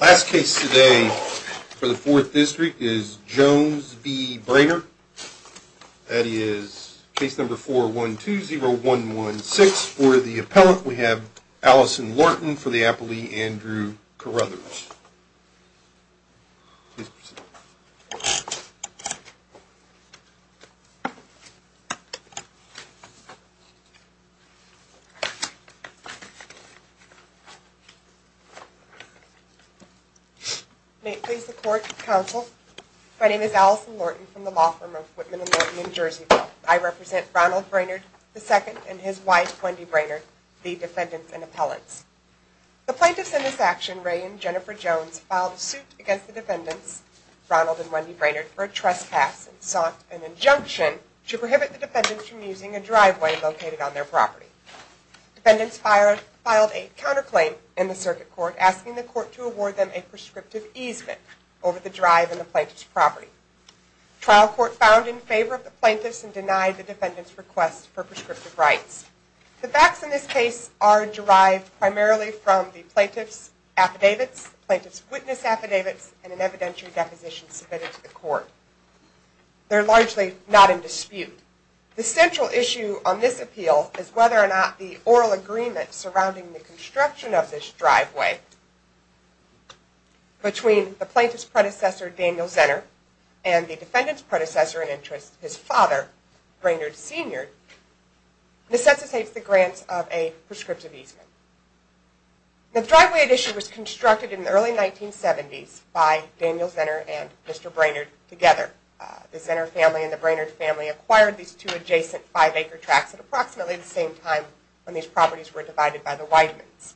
Last case today for the 4th district is Jones v. Brainerd. That is case number 4120116. For the appellant we have Allison Lorton for the appellee Andrew Carruthers. May it please the court, counsel, my name is Allison Lorton from the law firm of Whitman & Lorton in Jerseyville. I represent Ronald Brainerd II and his wife Wendy Brainerd, the defendants and appellants. The plaintiffs in this action, Ray and Jennifer Jones, filed a suit against the defendants, Ronald and Wendy Brainerd, for a trespass and sought an injunction to prohibit the defendants from using a driveway located on their property. The defendants filed a counterclaim in the circuit court asking the court to award them a prescriptive easement over the drive in the plaintiff's property. The trial court found in favor of the plaintiffs and denied the defendants' request for prescriptive rights. The facts in this case are derived primarily from the plaintiff's affidavits, the plaintiff's witness affidavits, and an evidentiary deposition submitted to the court. They are largely not in dispute. The central issue on this appeal is whether or not the oral agreement surrounding the construction of this driveway between the plaintiff's predecessor, Daniel Zenner, and the defendant's predecessor in interest, his father, Brainerd Sr., necessitates the grant of a prescriptive easement. The driveway addition was constructed in the early 1970s by Daniel Zenner and Mr. Brainerd together. The Zenner family and the Brainerd family acquired these two adjacent five-acre tracts at approximately the same time when these properties were divided by the Weidmans.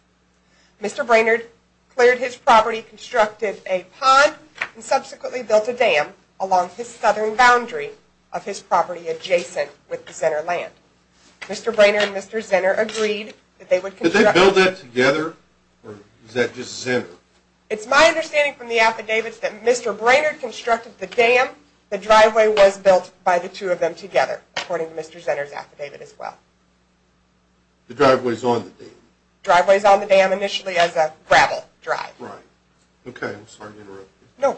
Mr. Brainerd cleared his property, constructed a pond, and subsequently built a dam along his southern boundary of his property adjacent with the Zenner land. Mr. Brainerd and Mr. Zenner agreed that they would construct the dam. Did they build it together, or was that just Zenner? It's my understanding from the affidavits that Mr. Brainerd constructed the dam, the driveway was built by the two of them together, according to Mr. Zenner's affidavit as well. The driveway is on the dam? The driveway is on the dam initially as a gravel drive. Right. Okay, I'm sorry to interrupt you.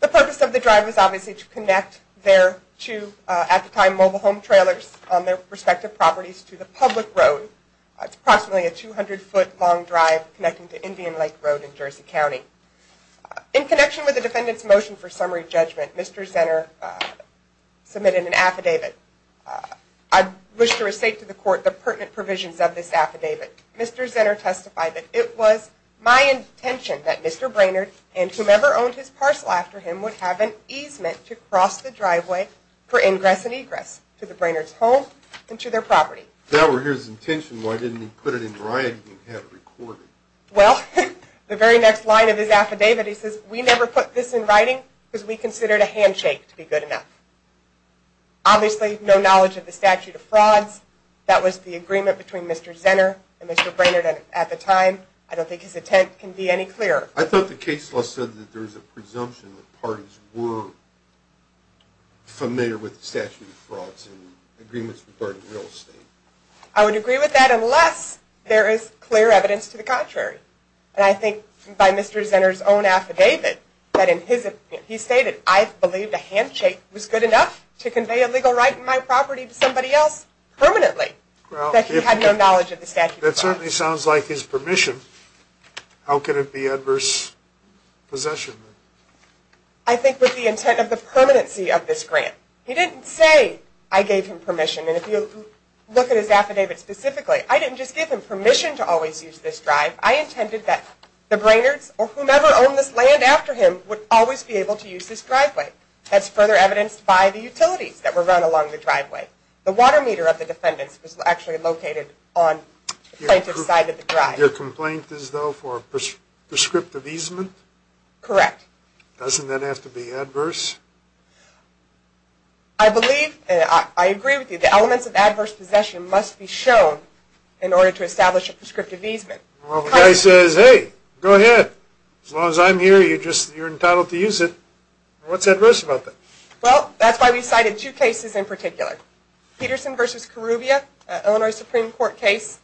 The purpose of the drive is obviously to connect their two at-the-time mobile home trailers on their respective properties to the public road. It's approximately a 200-foot long drive connecting to Indian Lake Road in Jersey County. In connection with the defendant's motion for summary judgment, Mr. Zenner submitted an affidavit. I wish to restate to the court the pertinent provisions of this affidavit. Mr. Zenner testified that it was my intention that Mr. Brainerd and whomever owned his parcel after him would have an easement to cross the driveway for ingress and egress to the Brainerds' home and to their property. If that were his intention, why didn't he put it in writing and have it recorded? Well, the very next line of his affidavit, he says, we never put this in writing because we considered a handshake to be good enough. Obviously, no knowledge of the statute of frauds. That was the agreement between Mr. Zenner and Mr. Brainerd at the time. I don't think his intent can be any clearer. I thought the case law said that there was a presumption that parties were familiar with the statute of frauds and agreements regarding real estate. I would agree with that unless there is clear evidence to the contrary. And I think by Mr. Zenner's own affidavit, he stated, I believe the handshake was good enough to convey a legal right in my property to somebody else permanently. That he had no knowledge of the statute of frauds. That certainly sounds like his permission. How could it be adverse possession? I think with the intent of the permanency of this grant. He didn't say, I gave him permission. And if you look at his affidavit specifically, I didn't just give him permission to always use this drive. I intended that the Brainerds or whomever owned this land after him would always be able to use this driveway. That's further evidenced by the utilities that were run along the driveway. The water meter of the defendants was actually located on the plaintiff's side of the drive. Your complaint is though for prescriptive easement? Correct. Doesn't that have to be adverse? I believe, and I agree with you, the elements of adverse possession must be shown in order to establish a prescriptive easement. Well, the guy says, hey, go ahead. As long as I'm here, you're entitled to use it. What's adverse about that? Well, that's why we cited two cases in particular. Peterson v. Kuruvia, an Illinois Supreme Court case.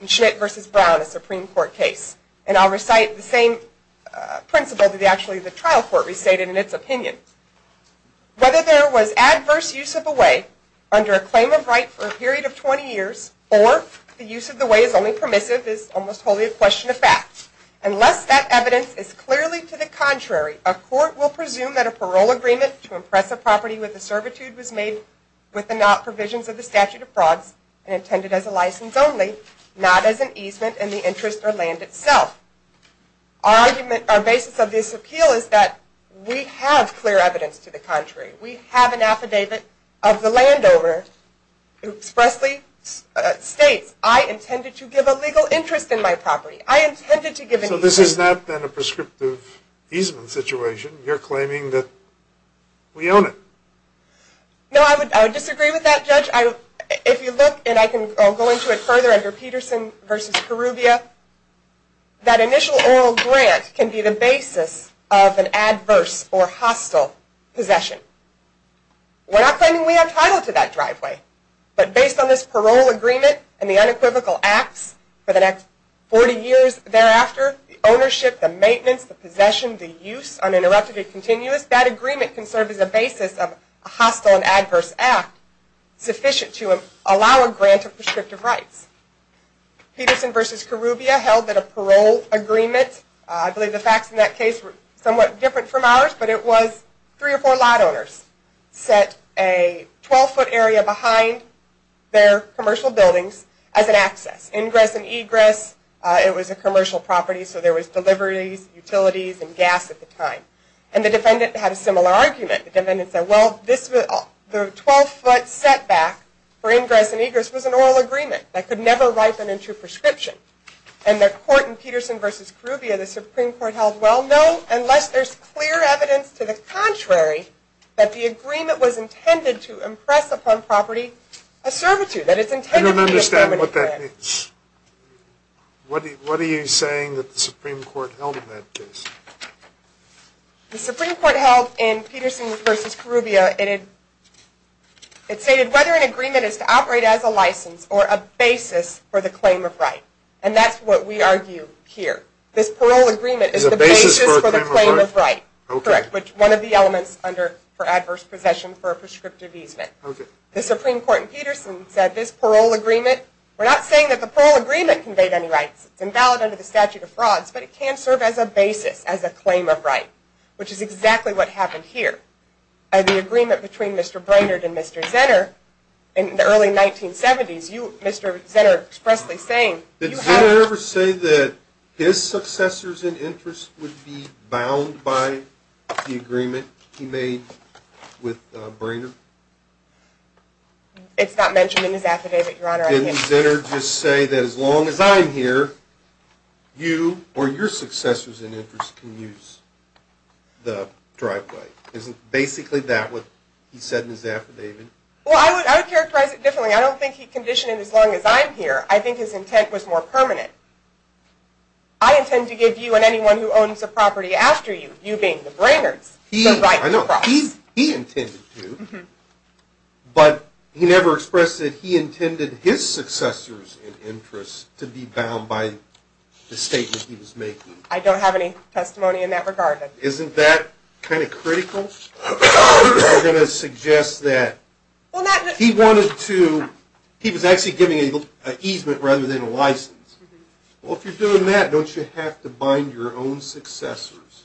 And Schmidt v. Brown, a Supreme Court case. And I'll recite the same principle that actually the trial court recited in its opinion. Whether there was adverse use of a way under a claim of right for a period of 20 years, or the use of the way is only permissive is almost wholly a question of fact. Unless that evidence is clearly to the contrary, a court will presume that a parole agreement to impress a property with a servitude was made with the provisions of the statute of frauds and intended as a license only, not as an easement in the interest or land itself. Our argument, our basis of this appeal is that we have clear evidence to the contrary. We have an affidavit of the landowner who expressly states, I intended to give a legal interest in my property. I intended to give an easement. So this has not been a prescriptive easement situation. You're claiming that we own it. No, I would disagree with that, Judge. If you look, and I can go into it further under Peterson v. Korubia, that initial oral grant can be the basis of an adverse or hostile possession. We're not claiming we have title to that driveway, but based on this parole agreement and the unequivocal acts for the next 40 years thereafter, the ownership, the maintenance, the possession, the use, uninterrupted and continuous, that agreement can serve as a basis of a hostile and adverse act sufficient to allow a grant of prescriptive rights. Peterson v. Korubia held that a parole agreement, I believe the facts in that case were somewhat different from ours, but it was three or four lot owners set a 12-foot area behind their commercial buildings as an access. Ingress and egress, it was a commercial property, so there was deliveries, utilities, and gas at the time. And the defendant had a similar argument. The defendant said, well, the 12-foot setback for ingress and egress was an oral agreement that could never ripen into prescription. And the court in Peterson v. Korubia, the Supreme Court held, well, no, unless there's clear evidence to the contrary that the agreement was intended to impress upon property a servitude. I don't understand what that means. What are you saying that the Supreme Court held in that case? The Supreme Court held in Peterson v. Korubia, it stated whether an agreement is to operate as a license or a basis for the claim of right. And that's what we argue here. This parole agreement is the basis for the claim of right. Correct. Which one of the elements under for adverse possession for a prescriptive easement. The Supreme Court in Peterson said this parole agreement, we're not saying that the parole agreement conveyed any rights. It's invalid under the statute of frauds, but it can serve as a basis, as a claim of right, which is exactly what happened here. The agreement between Mr. Brainerd and Mr. Zenner in the early 1970s, Mr. Zenner expressly saying, Did Zenner ever say that his successors in interest would be bound by the agreement he made with Brainerd? It's not mentioned in his affidavit, Your Honor. Didn't Zenner just say that as long as I'm here, you or your successors in interest can use the driveway? Isn't basically that what he said in his affidavit? Well, I would characterize it differently. I don't think he conditioned it as long as I'm here. I think his intent was more permanent. I intend to give you and anyone who owns a property after you, you being the Brainerds, the right to cross. I know. He intended to, but he never expressed that he intended his successors in interest to be bound by the statement he was making. I don't have any testimony in that regard. Isn't that kind of critical? You're going to suggest that he wanted to, he was actually giving an easement rather than a license. Well, if you're doing that, don't you have to bind your own successors?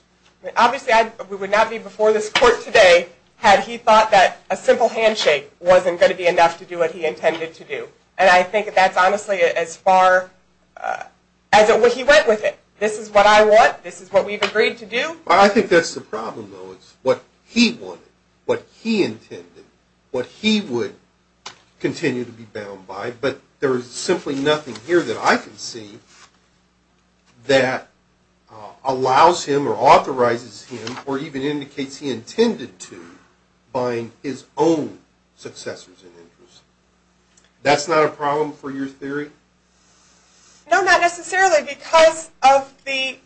Obviously, we would not be before this court today had he thought that a simple handshake wasn't going to be enough to do what he intended to do, and I think that's honestly as far as he went with it. This is what I want. This is what we've agreed to do. I think that's the problem, though, is what he wanted, what he intended, what he would continue to be bound by, but there is simply nothing here that I can see that allows him or authorizes him or even indicates he intended to bind his own successors in interest. That's not a problem for your theory? No, not necessarily because of the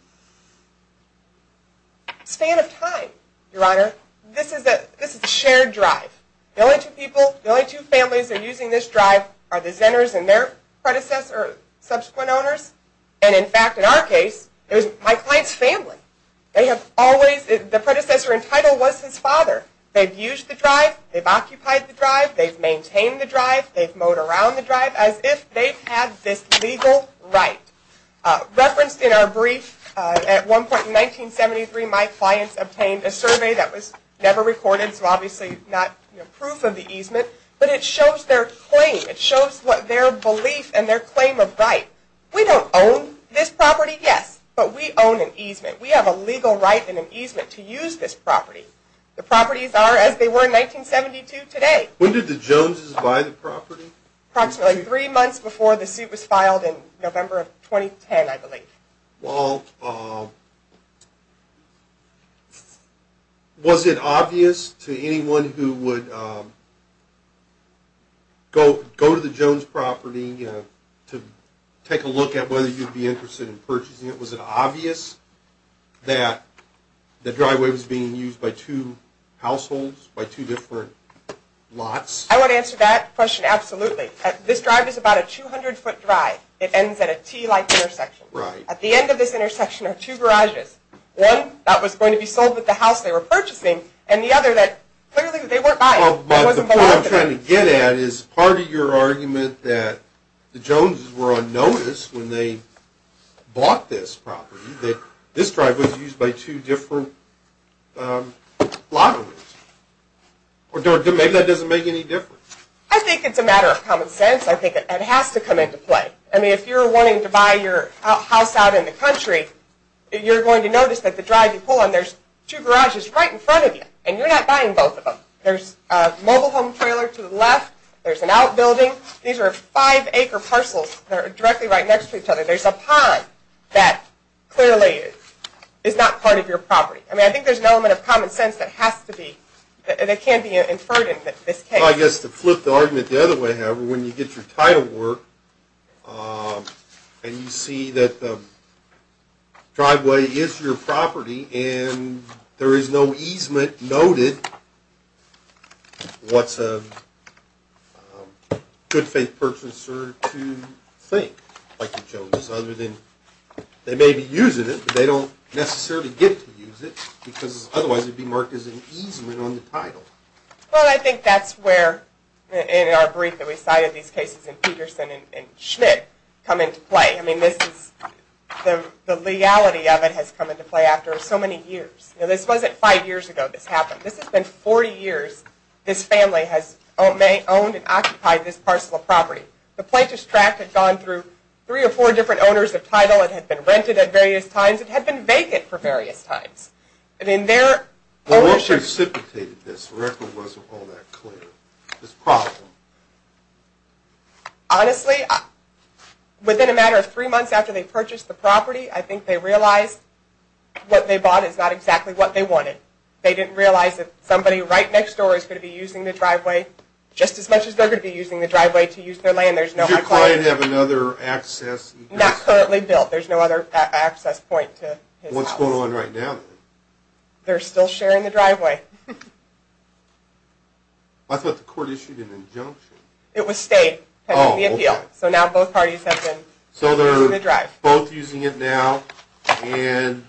span of time, Your Honor. This is a shared drive. The only two people, the only two families that are using this drive are the Zenners and their predecessor, subsequent owners, and in fact, in our case, it was my client's family. They have always, the predecessor in title was his father. They've used the drive. They've occupied the drive. They've maintained the drive. They've mowed around the drive as if they've had this legal right. Referenced in our brief, at one point in 1973, my clients obtained a survey that was never recorded, so obviously not proof of the easement, but it shows their claim. It shows what their belief and their claim of right. We don't own this property, yes, but we own an easement. We have a legal right in an easement to use this property. The properties are as they were in 1972 today. When did the Joneses buy the property? Approximately three months before the suit was filed in November of 2010, I believe. Walt, was it obvious to anyone who would go to the Jones property to take a look at whether you'd be interested in purchasing it, was it obvious that the driveway was being used by two households, by two different lots? I would answer that question absolutely. This drive is about a 200-foot drive. It ends at a T-like intersection. At the end of this intersection are two garages. One that was going to be sold with the house they were purchasing, and the other that clearly they weren't buying. The point I'm trying to get at is part of your argument that the Joneses were on notice when they bought this property that this drive was used by two different lot owners. Maybe that doesn't make any difference. I think it's a matter of common sense. I think it has to come into play. If you're wanting to buy your house out in the country, you're going to notice that the drive you pull on, there's two garages right in front of you, and you're not buying both of them. There's a mobile home trailer to the left. There's an outbuilding. These are five-acre parcels that are directly right next to each other. There's a pond that clearly is not part of your property. I think there's an element of common sense that can be inferred in this case. Well, I guess to flip the argument the other way, however, when you get your title work and you see that the driveway is your property and there is no easement noted, what's a good-faith purchaser to think, like the Joneses, other than they may be using it, but they don't necessarily get to use it, because otherwise it would be marked as an easement on the title. Well, I think that's where, in our brief that we cited, these cases in Peterson and Schmidt come into play. I mean, the legality of it has come into play after so many years. This wasn't five years ago this happened. This has been 40 years this family has owned and occupied this parcel of property. The plaintiff's tract had gone through three or four different owners of title. It had been rented at various times. It had been vacant for various times. Well, what precipitated this? The record wasn't all that clear. This problem. Honestly, within a matter of three months after they purchased the property, I think they realized what they bought is not exactly what they wanted. They didn't realize that somebody right next door is going to be using the driveway just as much as they're going to be using the driveway to use their land. Does your client have another access? Not currently built. There's no other access point to his house. What's going on right now? They're still sharing the driveway. I thought the court issued an injunction. It was state pending the appeal. So now both parties have been using the drive. So they're both using it now, and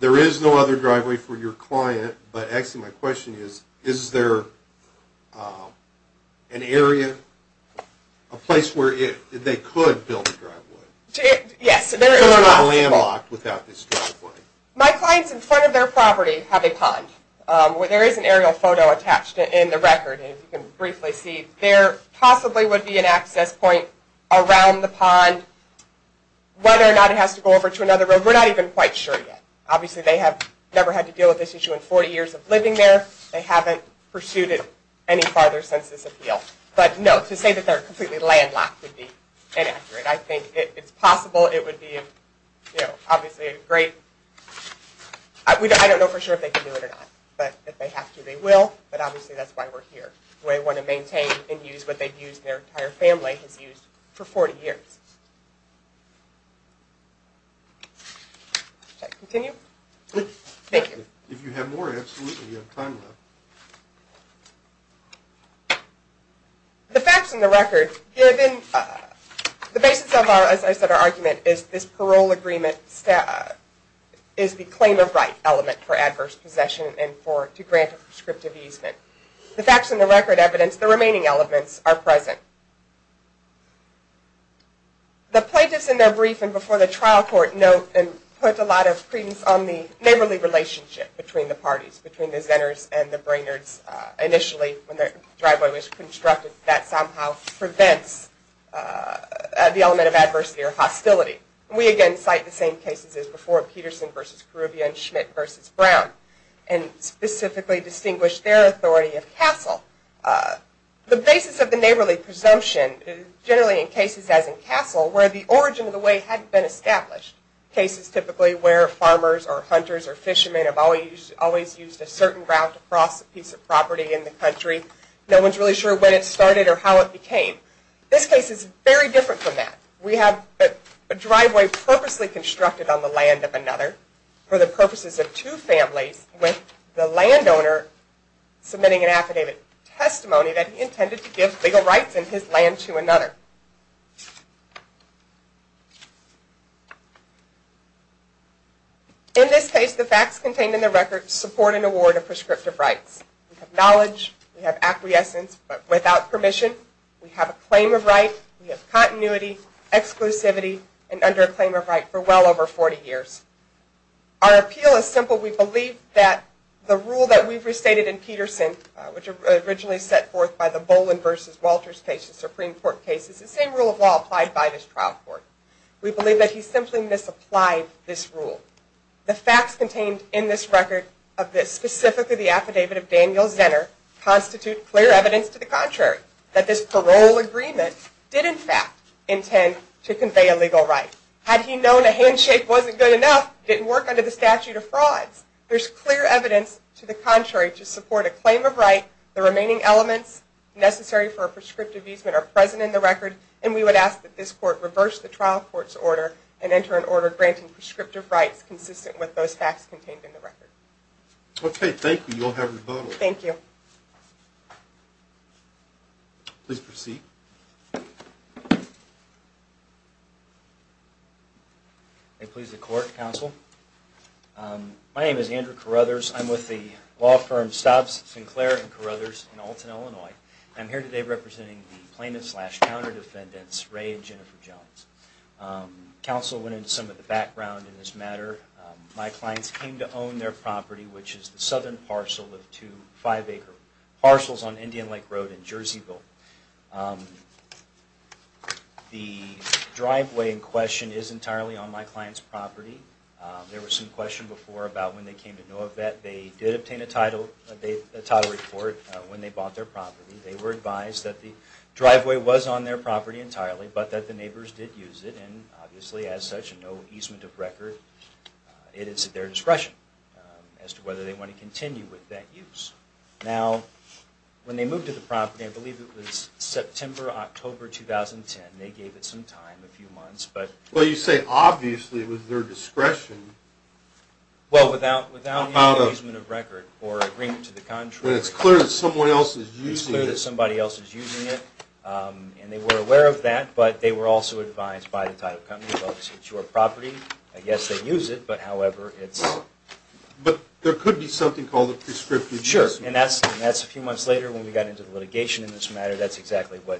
there is no other driveway for your client. But actually my question is, is there an area, a place where they could build a driveway? Yes. Because they're landlocked without this driveway. My clients in front of their property have a pond. There is an aerial photo attached in the record, and you can briefly see. There possibly would be an access point around the pond. Whether or not it has to go over to another road, we're not even quite sure yet. Obviously they have never had to deal with this issue in 40 years of living there. They haven't pursued it any farther since this appeal. But no, to say that they're completely landlocked would be inaccurate. I think it's possible it would be, you know, obviously a great. I don't know for sure if they can do it or not. But if they have to, they will. But obviously that's why we're here. We want to maintain and use what they've used, their entire family has used for 40 years. Should I continue? Yes. Thank you. If you have more, absolutely, you have time left. The facts in the record, given the basis of our, as I said, our argument is this parole agreement is the claim of right element for adverse possession and to grant a prescriptive easement. The facts in the record evidence the remaining elements are present. The plaintiffs in their briefing before the trial court note and put a lot of credence on the neighborly relationship between the parties, between the Zenners and the Brainerds initially when their driveway was constructed. That somehow prevents the element of adversity or hostility. We again cite the same cases as before, Peterson v. Caribbean, Schmidt v. Brown, and specifically distinguish their authority of Castle. The basis of the neighborly presumption, generally in cases as in Castle, where the origin of the way hadn't been established, cases typically where farmers or hunters or fishermen have always used a certain route across a piece of property in the country. No one is really sure when it started or how it became. This case is very different from that. We have a driveway purposely constructed on the land of another for the purposes of two families with the landowner submitting an affidavit testimony that he intended to give legal rights in his land to another. In this case, the facts contained in the record support an award of prescriptive rights. We have knowledge, we have acquiescence, but without permission. We have a claim of right, we have continuity, exclusivity, and under a claim of right for well over 40 years. Our appeal is simple. We believe that the rule that we've restated in Peterson, which was originally set forth by the Bolin v. Walters case, the Supreme Court case, is the same rule of law applied by this trial court. We believe that he simply misapplied this rule. The facts contained in this record of this, specifically the affidavit of Daniel Zenner, constitute clear evidence to the contrary that this parole agreement did in fact intend to convey a legal right. Had he known a handshake wasn't good enough, it didn't work under the statute of frauds. There's clear evidence to the contrary to support a claim of right. The remaining elements necessary for a prescriptive easement are present in the record, and we would ask that this court reverse the trial court's order and enter an order granting prescriptive rights consistent with those facts contained in the record. Okay, thank you. You'll have your vote. Thank you. Please proceed. May it please the Court, Counsel. My name is Andrew Carruthers. I'm with the law firms Stobbs, Sinclair, and Carruthers in Alton, Illinois. I'm here today representing the plaintiffs slash counter defendants Ray and Jennifer Jones. Counsel went into some of the background in this matter. My clients came to own their property, which is the southern parcel of two five-acre parcels on Indian Lake Road in Jerseyville. The driveway in question is entirely on my client's property. There was some question before about when they came to know of that. They did obtain a title report when they bought their property. They were advised that the driveway was on their property entirely, but that the neighbors did use it, and obviously as such, no easement of record. It is at their discretion as to whether they want to continue with that use. Now, when they moved to the property, I believe it was September, October 2010, they gave it some time, a few months. Well, you say obviously with their discretion. Well, without any easement of record or agreement to the contrary. It's clear that someone else is using it. It's clear that somebody else is using it, and they were aware of that, but they were also advised by the title company, well, it's your property, I guess they use it, but however, it's... But there could be something called a prescriptive easement. Sure, and that's a few months later when we got into the litigation in this matter, that's exactly what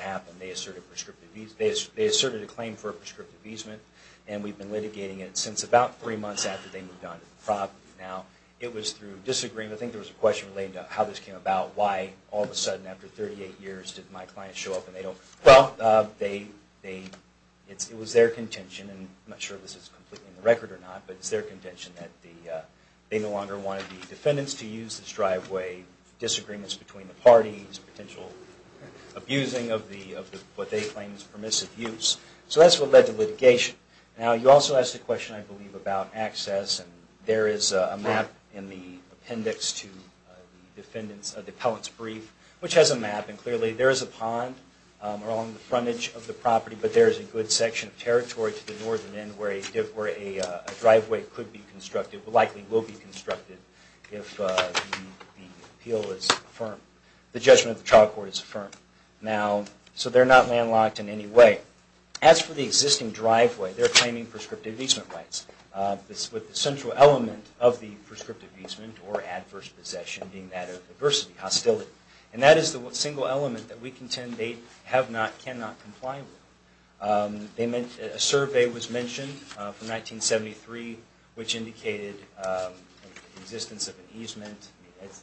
happened. They asserted a claim for a prescriptive easement, and we've been litigating it since about three months after they moved on to the property. Now, it was through disagreement. I think there was a question relating to how this came about. Why, all of a sudden, after 38 years, did my client show up and they don't... Well, it was their contention, and I'm not sure if this is completely in the record or not, but it's their contention that they no longer wanted the defendants to use this driveway. Disagreements between the parties, potential abusing of what they claim is permissive use. So that's what led to litigation. Now, you also asked a question, I believe, about access, and there is a map in the appendix to the defendant's, the appellant's brief, which has a map, and clearly there is a pond along the frontage of the property, but there is a good section of territory to the northern end where a driveway could be constructed, likely will be constructed, if the appeal is affirmed, the judgment of the trial court is affirmed. Now, so they're not landlocked in any way. As for the existing driveway, they're claiming prescriptive easement rights, with the central element of the prescriptive easement or adverse possession being that of adversity, hostility. And that is the single element that we contend they have not, cannot comply with. A survey was mentioned from 1973, which indicated the existence of an easement.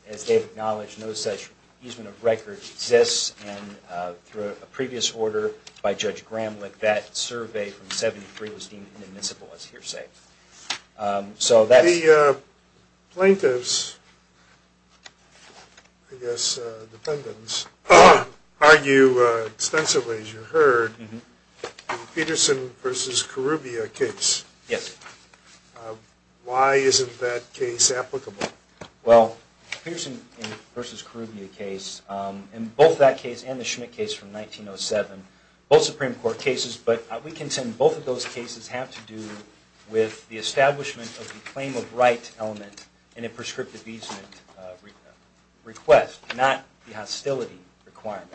As they've acknowledged, no such easement of record exists, and through a previous order by Judge Gramlich, that survey from 1973 was deemed inadmissible, as hearsay. The plaintiffs, I guess the defendants, argue extensively, as you heard, in the Peterson v. Karubia case. Yes. Why isn't that case applicable? Well, the Peterson v. Karubia case, and both that case and the Schmidt case from 1907, both Supreme Court cases, but we contend both of those cases have to do with the establishment of the claim of right element in a prescriptive easement request, not the hostility requirement.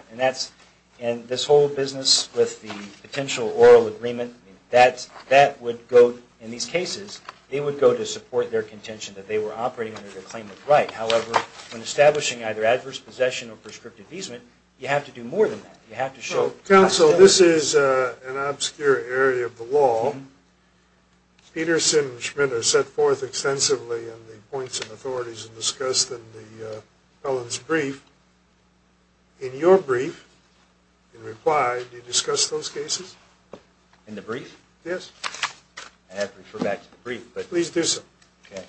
And this whole business with the potential oral agreement, that would go, in these cases, they would go to support their contention that they were operating under the claim of right. However, when establishing either adverse possession or prescriptive easement, you have to do more than that. Counsel, this is an obscure area of the law. Peterson and Schmidt are set forth extensively in the points of authorities and discussed in the felon's brief. In your brief, in reply, do you discuss those cases? In the brief? Yes. I have to refer back to the brief. Please do so. Okay.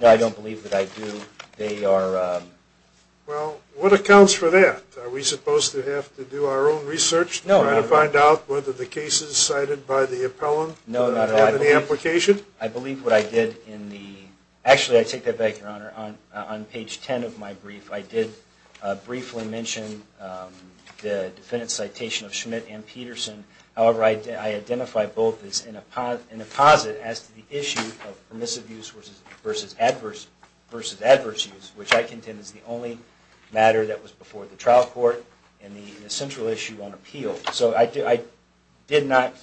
No, I don't believe that I do. Well, what accounts for that? Are we supposed to have to do our own research to find out whether the cases cited by the appellant are of any application? No, not at all. I believe what I did in the – actually, I take that back, Your Honor. On page 10 of my brief, I did briefly mention the defendant's citation of Schmidt and Peterson. However, I identify both as an apposite as to the issue of permissive use versus adverse use, which I contend is the only matter that was before the trial court and the central issue on appeal. So I did not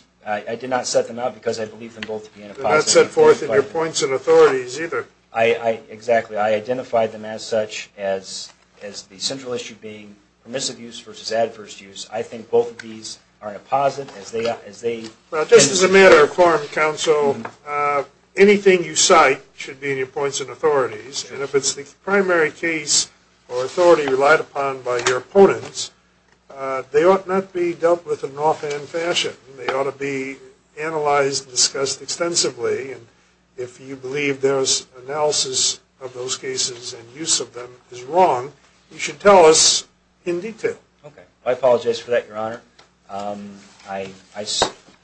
set them out because I believe them both to be an apposite. They're not set forth in your points of authorities either. Exactly. I identified them as such as the central issue being permissive use versus adverse use. I think both of these are an apposite as they – Well, just as a matter of form, counsel, anything you cite should be in your points of authorities. And if it's the primary case or authority relied upon by your opponents, they ought not be dealt with in an offhand fashion. They ought to be analyzed and discussed extensively. And if you believe there's analysis of those cases and use of them is wrong, you should tell us in detail. Okay. I apologize for that, Your Honor.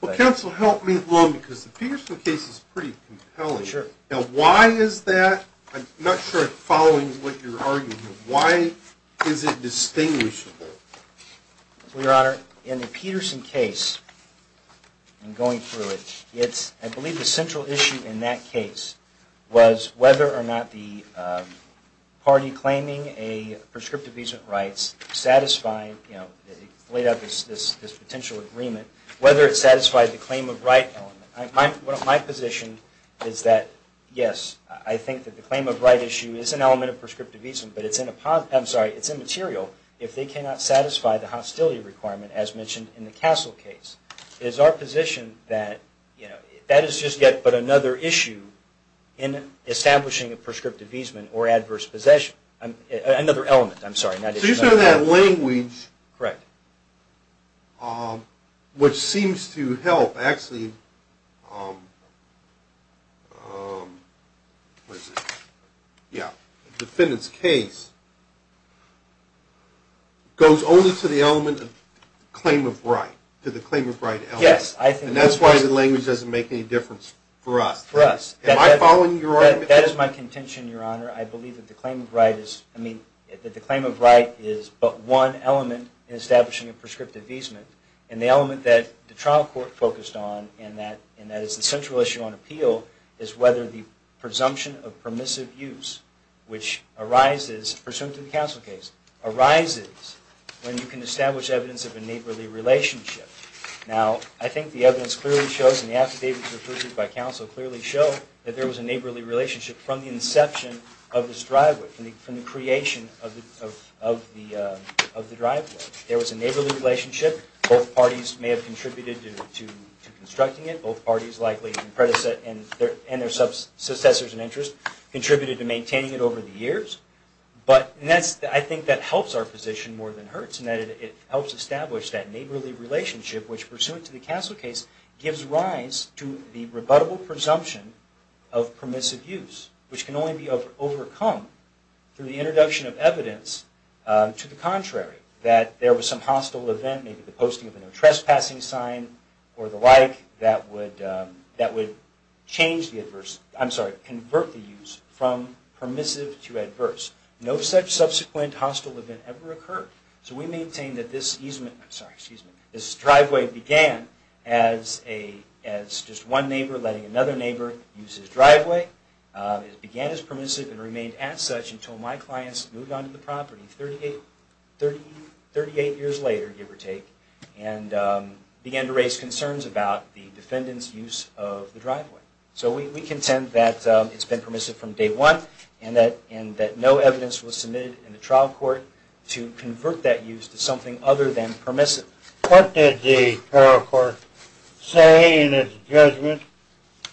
Well, counsel, help me along because the Peterson case is pretty compelling. Now, why is that? I'm not sure I'm following what you're arguing. Why is it distinguishable? Well, Your Honor, in the Peterson case and going through it, I believe the central issue in that case was whether or not the party claiming a prescriptive use of rights laid out this potential agreement, whether it satisfied the claim of right element. My position is that, yes, I think that the claim of right issue is an element of prescriptive easement, but it's immaterial if they cannot satisfy the hostility requirement as mentioned in the Castle case. It is our position that that is just yet but another issue in establishing a prescriptive easement or adverse possession – another element, I'm sorry. So you said that language, which seems to help, actually, the defendants case, goes only to the element of claim of right, to the claim of right element. Yes. And that's why the language doesn't make any difference for us. For us. Am I following your argument? If that is my contention, Your Honor, I believe that the claim of right is but one element in establishing a prescriptive easement. And the element that the trial court focused on, and that is the central issue on appeal, is whether the presumption of permissive use, which arises, pursuant to the Castle case, arises when you can establish evidence of a neighborly relationship. Now, I think the evidence clearly shows, and the affidavits referred to by counsel clearly show, that there was a neighborly relationship from the inception of this driveway, from the creation of the driveway. There was a neighborly relationship. Both parties may have contributed to constructing it. Both parties likely, and their successors in interest, contributed to maintaining it over the years. I think that helps our position more than hurts, in that it helps establish that neighborly relationship, which, pursuant to the Castle case, gives rise to the rebuttable presumption of permissive use, which can only be overcome through the introduction of evidence to the contrary. That there was some hostile event, maybe the posting of a trespassing sign or the like, that would convert the use from permissive to adverse. No such subsequent hostile event ever occurred. So we maintain that this driveway began as just one neighbor letting another neighbor use his driveway. It began as permissive and remained as such until my clients moved onto the property 38 years later, give or take, and began to raise concerns about the defendant's use of the driveway. So we contend that it's been permissive from day one, and that no evidence was submitted in the trial court to convert that use to something other than permissive. What did the trial court say in its judgment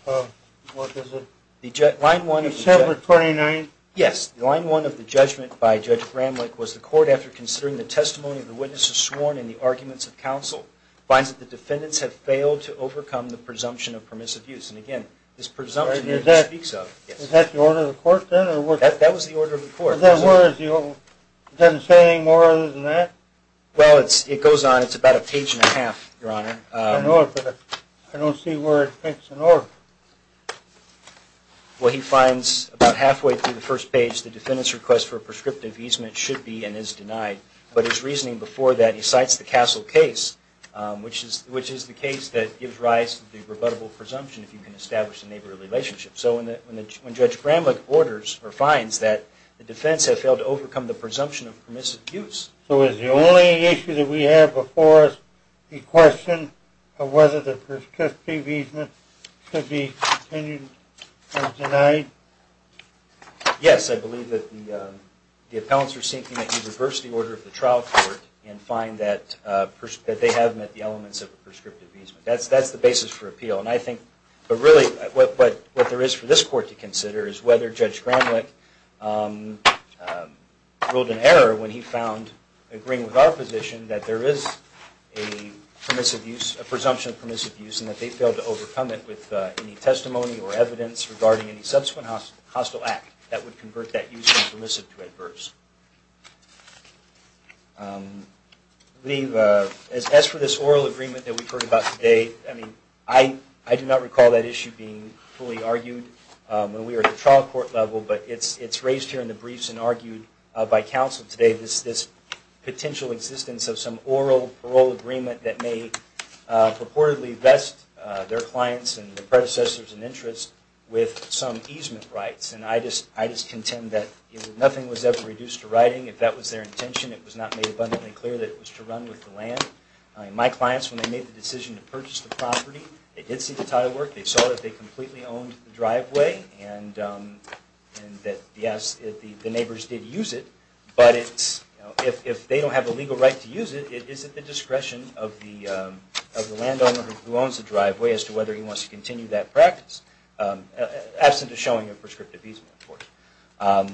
of, what was it, December 29th? Yes. The line one of the judgment by Judge Bramlich was, the court, after considering the testimony of the witnesses sworn and the arguments of counsel, finds that the defendants have failed to overcome the presumption of permissive use. And, again, this presumption is what he speaks of. Is that the order of the court, then? That was the order of the court. Then where is the order? Does it say any more than that? Well, it goes on. It's about a page and a half, Your Honor. I know it, but I don't see where it speaks in order. Well, he finds about halfway through the first page, the defendant's request for a prescriptive easement should be and is denied. But his reasoning before that, he cites the Castle case, which is the case that gives rise to the rebuttable presumption if you can establish a neighborly relationship. So when Judge Bramlich orders, or finds, that the defendants have failed to overcome the presumption of permissive use. So is the only issue that we have before us a question of whether the prescriptive easement should be continued or denied? Yes. I believe that the appellants are seeking that you reverse the order of the trial court and find that they have met the elements of a prescriptive easement. That's the basis for appeal. But, really, what there is for this court to consider is whether Judge Bramlich ruled in error when he found, agreeing with our position, that there is a presumption of permissive use and that they failed to overcome it with any testimony or evidence regarding any subsequent hostile act that would convert that use from permissive to adverse. As for this oral agreement that we've heard about today, I do not recall that issue being fully argued when we were at the trial court level, but it's raised here in the briefs and argued by counsel today. This potential existence of some oral parole agreement that may purportedly vest their clients and their predecessors in interest with some easement rights. And I just contend that nothing was ever reduced to writing. If that was their intention, it was not made abundantly clear that it was to run with the land. My clients, when they made the decision to purchase the property, they did see the title work. They saw that they completely owned the driveway and that, yes, the neighbors did use it, but if they don't have the legal right to use it, is it the discretion of the landowner who owns the driveway as to whether he wants to continue that practice, absent of showing a prescriptive easement, of course.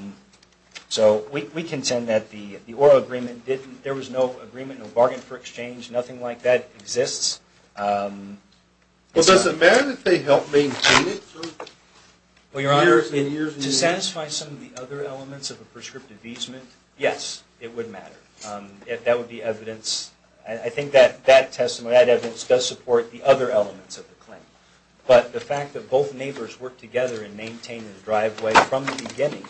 So we contend that the oral agreement didn't, there was no agreement, no bargain for exchange, nothing like that exists. Well, does it matter that they helped maintain it for years and years and years? To satisfy some of the other elements of a prescriptive easement, yes, it would matter. That would be evidence, I think that that testimony, that evidence, does support the other elements of the claim. But the fact that both neighbors worked together and maintained the driveway from the beginning,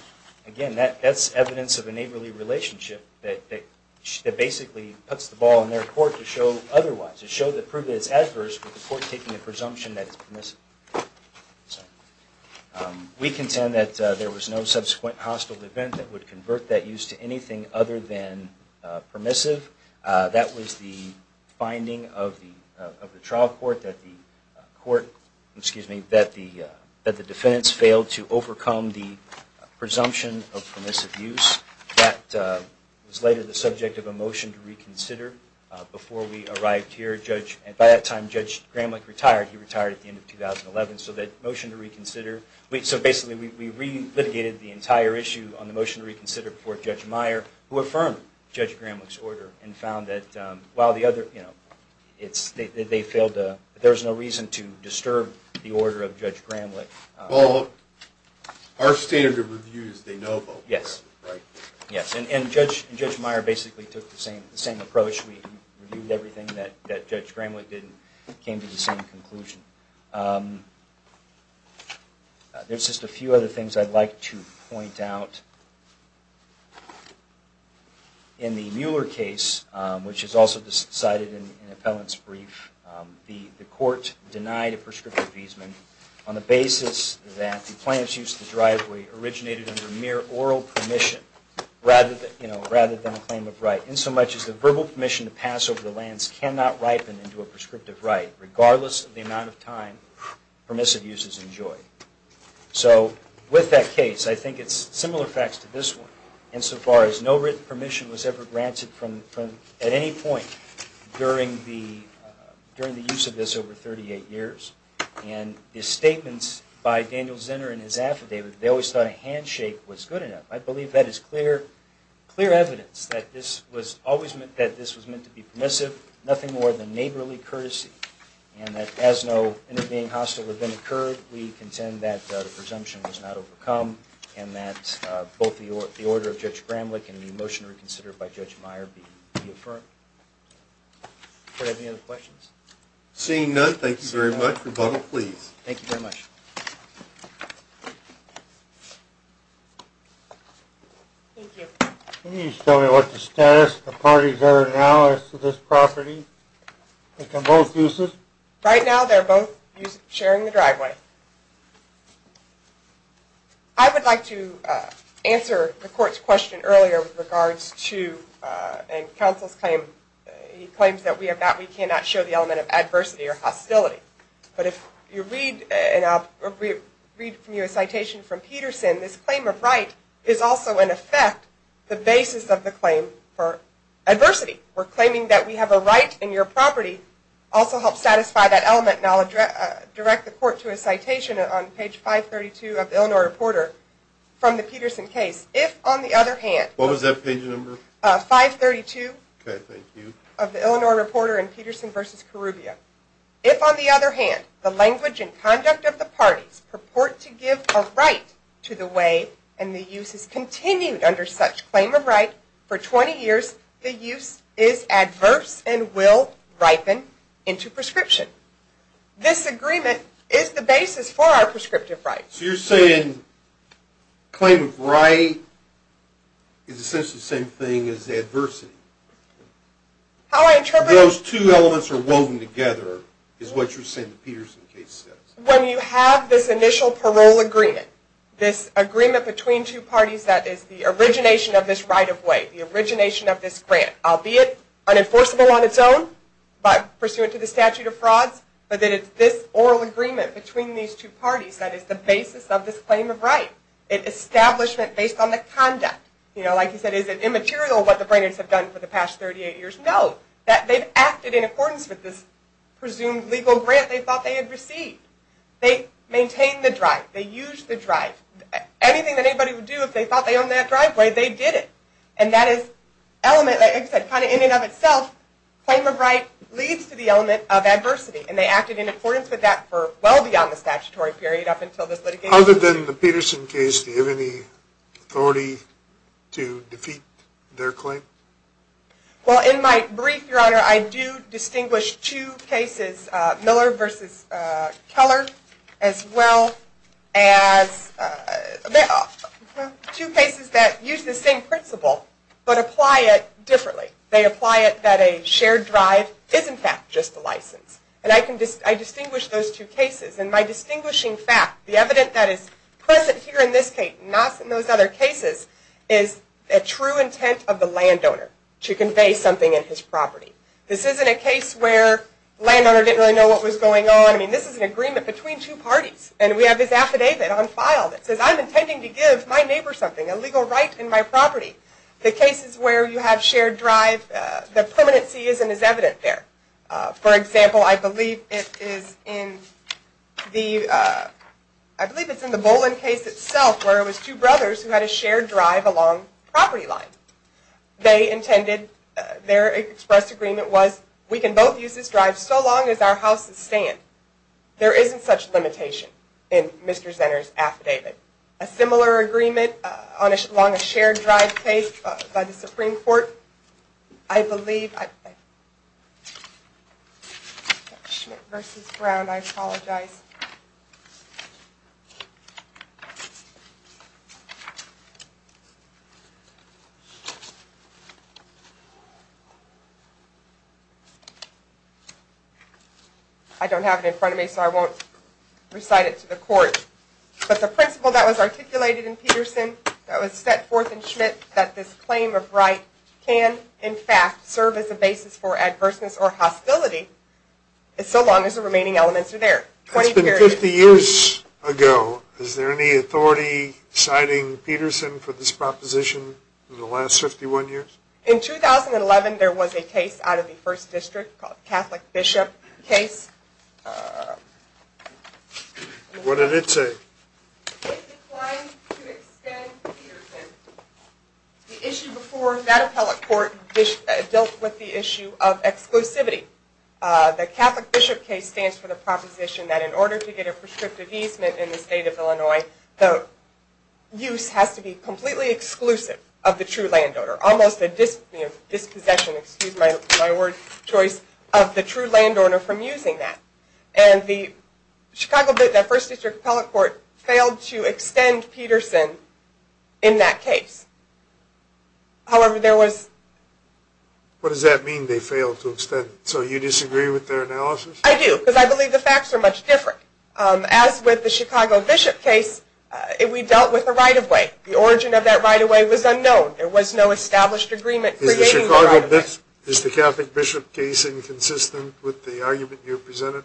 again, that's evidence of a neighborly relationship that basically puts the ball in their court to show otherwise, with the court taking a presumption that it's permissible. We contend that there was no subsequent hostile event that would convert that use to anything other than permissive. That was the finding of the trial court that the defense failed to overcome the presumption of permissive use. That was later the subject of a motion to reconsider before we arrived here. By that time, Judge Gramlich retired. He retired at the end of 2011. So basically, we re-litigated the entire issue on the motion to reconsider before Judge Meyer, who affirmed Judge Gramlich's order and found that there was no reason to disturb the order of Judge Gramlich. Well, our standard of review is they know about what happened, right? Yes. And Judge Meyer basically took the same approach. We reviewed everything that Judge Gramlich did and came to the same conclusion. There's just a few other things I'd like to point out. In the Mueller case, which is also cited in an appellant's brief, the court denied a prescriptive appeasement on the basis that the plaintiff's use of the driveway originated under mere oral permission rather than a claim of right, insomuch as the verbal permission to pass over the lands cannot ripen into a prescriptive right, regardless of the amount of time permissive uses enjoy. So with that case, I think it's similar facts to this one, insofar as no written permission was ever granted at any point during the use of this over 38 years. And the statements by Daniel Zinner in his affidavit, they always thought a handshake was good enough. I believe that is clear evidence that this was meant to be permissive, nothing more than neighborly courtesy, and that as no intervening hostile event occurred, we contend that the presumption was not overcome and that both the order of Judge Gramlich and the motion reconsidered by Judge Meyer be affirmed. Do I have any other questions? Seeing none, thank you very much. Rebuttal, please. Thank you very much. Thank you. Can you tell me what the status of the parties are now as to this property? Like on both uses? Right now, they're both sharing the driveway. I would like to answer the court's question earlier with regards to, and counsel's claim, he claims that we cannot show the element of adversity or hostility. But if you read, and I'll read from you a citation from Peterson, this claim of right is also, in effect, the basis of the claim for adversity. We're claiming that we have a right, and your property also helps satisfy that element. And I'll direct the court to a citation on page 532 of the Illinois Reporter from the Peterson case. If, on the other hand, What was that page number? 532. Okay, thank you. Of the Illinois Reporter in Peterson v. Corrubia. If, on the other hand, the language and conduct of the parties purport to give a right to the way, and the use is continued under such claim of right for 20 years, the use is adverse and will ripen into prescription. This agreement is the basis for our prescriptive right. So you're saying claim of right is essentially the same thing as adversity. How I interpret it... Those two elements are woven together, is what you're saying the Peterson case says. When you have this initial parole agreement, this agreement between two parties that is the origination of this right of way, the origination of this grant, albeit unenforceable on its own, but pursuant to the statute of frauds, but that it's this oral agreement between these two parties that is the basis of this claim of right. It's establishment based on the conduct. You know, like you said, is it immaterial what the Brainerds have done for the past 38 years? No, that they've acted in accordance with this presumed legal grant they thought they had received. They maintained the drive. They used the drive. Anything that anybody would do if they thought they owned that driveway, they did it. And that is element, like I said, kind of in and of itself, claim of right leads to the element of adversity, and they acted in accordance with that for well beyond the statutory period up until this litigation. Other than the Peterson case, do you have any authority to defeat their claim? Well, in my brief, Your Honor, I do distinguish two cases, Miller v. Keller, as well as two cases that use the same principle but apply it differently. They apply it that a shared drive is, in fact, just a license. And I distinguish those two cases. And my distinguishing fact, the evidence that is present here in this case, not in those other cases, is a true intent of the landowner to convey something in his property. This isn't a case where the landowner didn't really know what was going on. I mean, this is an agreement between two parties. And we have this affidavit on file that says, I'm intending to give my neighbor something, a legal right in my property. The cases where you have shared drive, the permanency isn't as evident there. For example, I believe it is in the Boland case itself, where it was two brothers who had a shared drive along the property line. They intended, their express agreement was, we can both use this drive so long as our houses stand. There isn't such limitation in Mr. Zenner's affidavit. A similar agreement along a shared drive case by the Supreme Court, I believe, Schmidt v. Brown, I apologize. I don't have it in front of me, so I won't recite it to the court. But the principle that was articulated in Peterson, that was set forth in Schmidt, that this claim of right can, in fact, serve as a basis for adverseness or hostility, so long as the remaining elements are there. It's been 50 years ago. Is there any authority citing Peterson for this proposition in the last 51 years? In 2011, there was a case out of the First District called the Catholic Bishop case. What did it say? It declined to extend Peterson. The issue before that appellate court dealt with the issue of exclusivity. The Catholic Bishop case stands for the proposition that in order to get a prescriptive easement in the state of Illinois, the use has to be completely exclusive of the true landowner, almost a dispossession, excuse my word choice, of the true landowner from using that. And the Chicago, that First District appellate court, failed to extend Peterson in that case. However, there was... What does that mean, they failed to extend? So you disagree with their analysis? I do, because I believe the facts are much different. As with the Chicago Bishop case, we dealt with a right-of-way. The origin of that right-of-way was unknown. There was no established agreement creating the right-of-way. Is the Catholic Bishop case inconsistent with the argument you presented?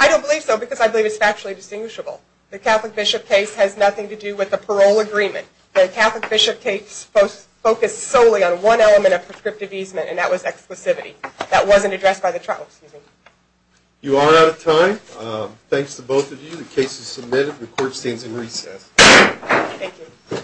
I don't believe so, because I believe it's factually distinguishable. The Catholic Bishop case has nothing to do with the parole agreement. The Catholic Bishop case focused solely on one element of prescriptive easement, and that was exclusivity. That wasn't addressed by the trial. You are out of time. Thanks to both of you. The case is submitted. The court stands in recess. Thank you.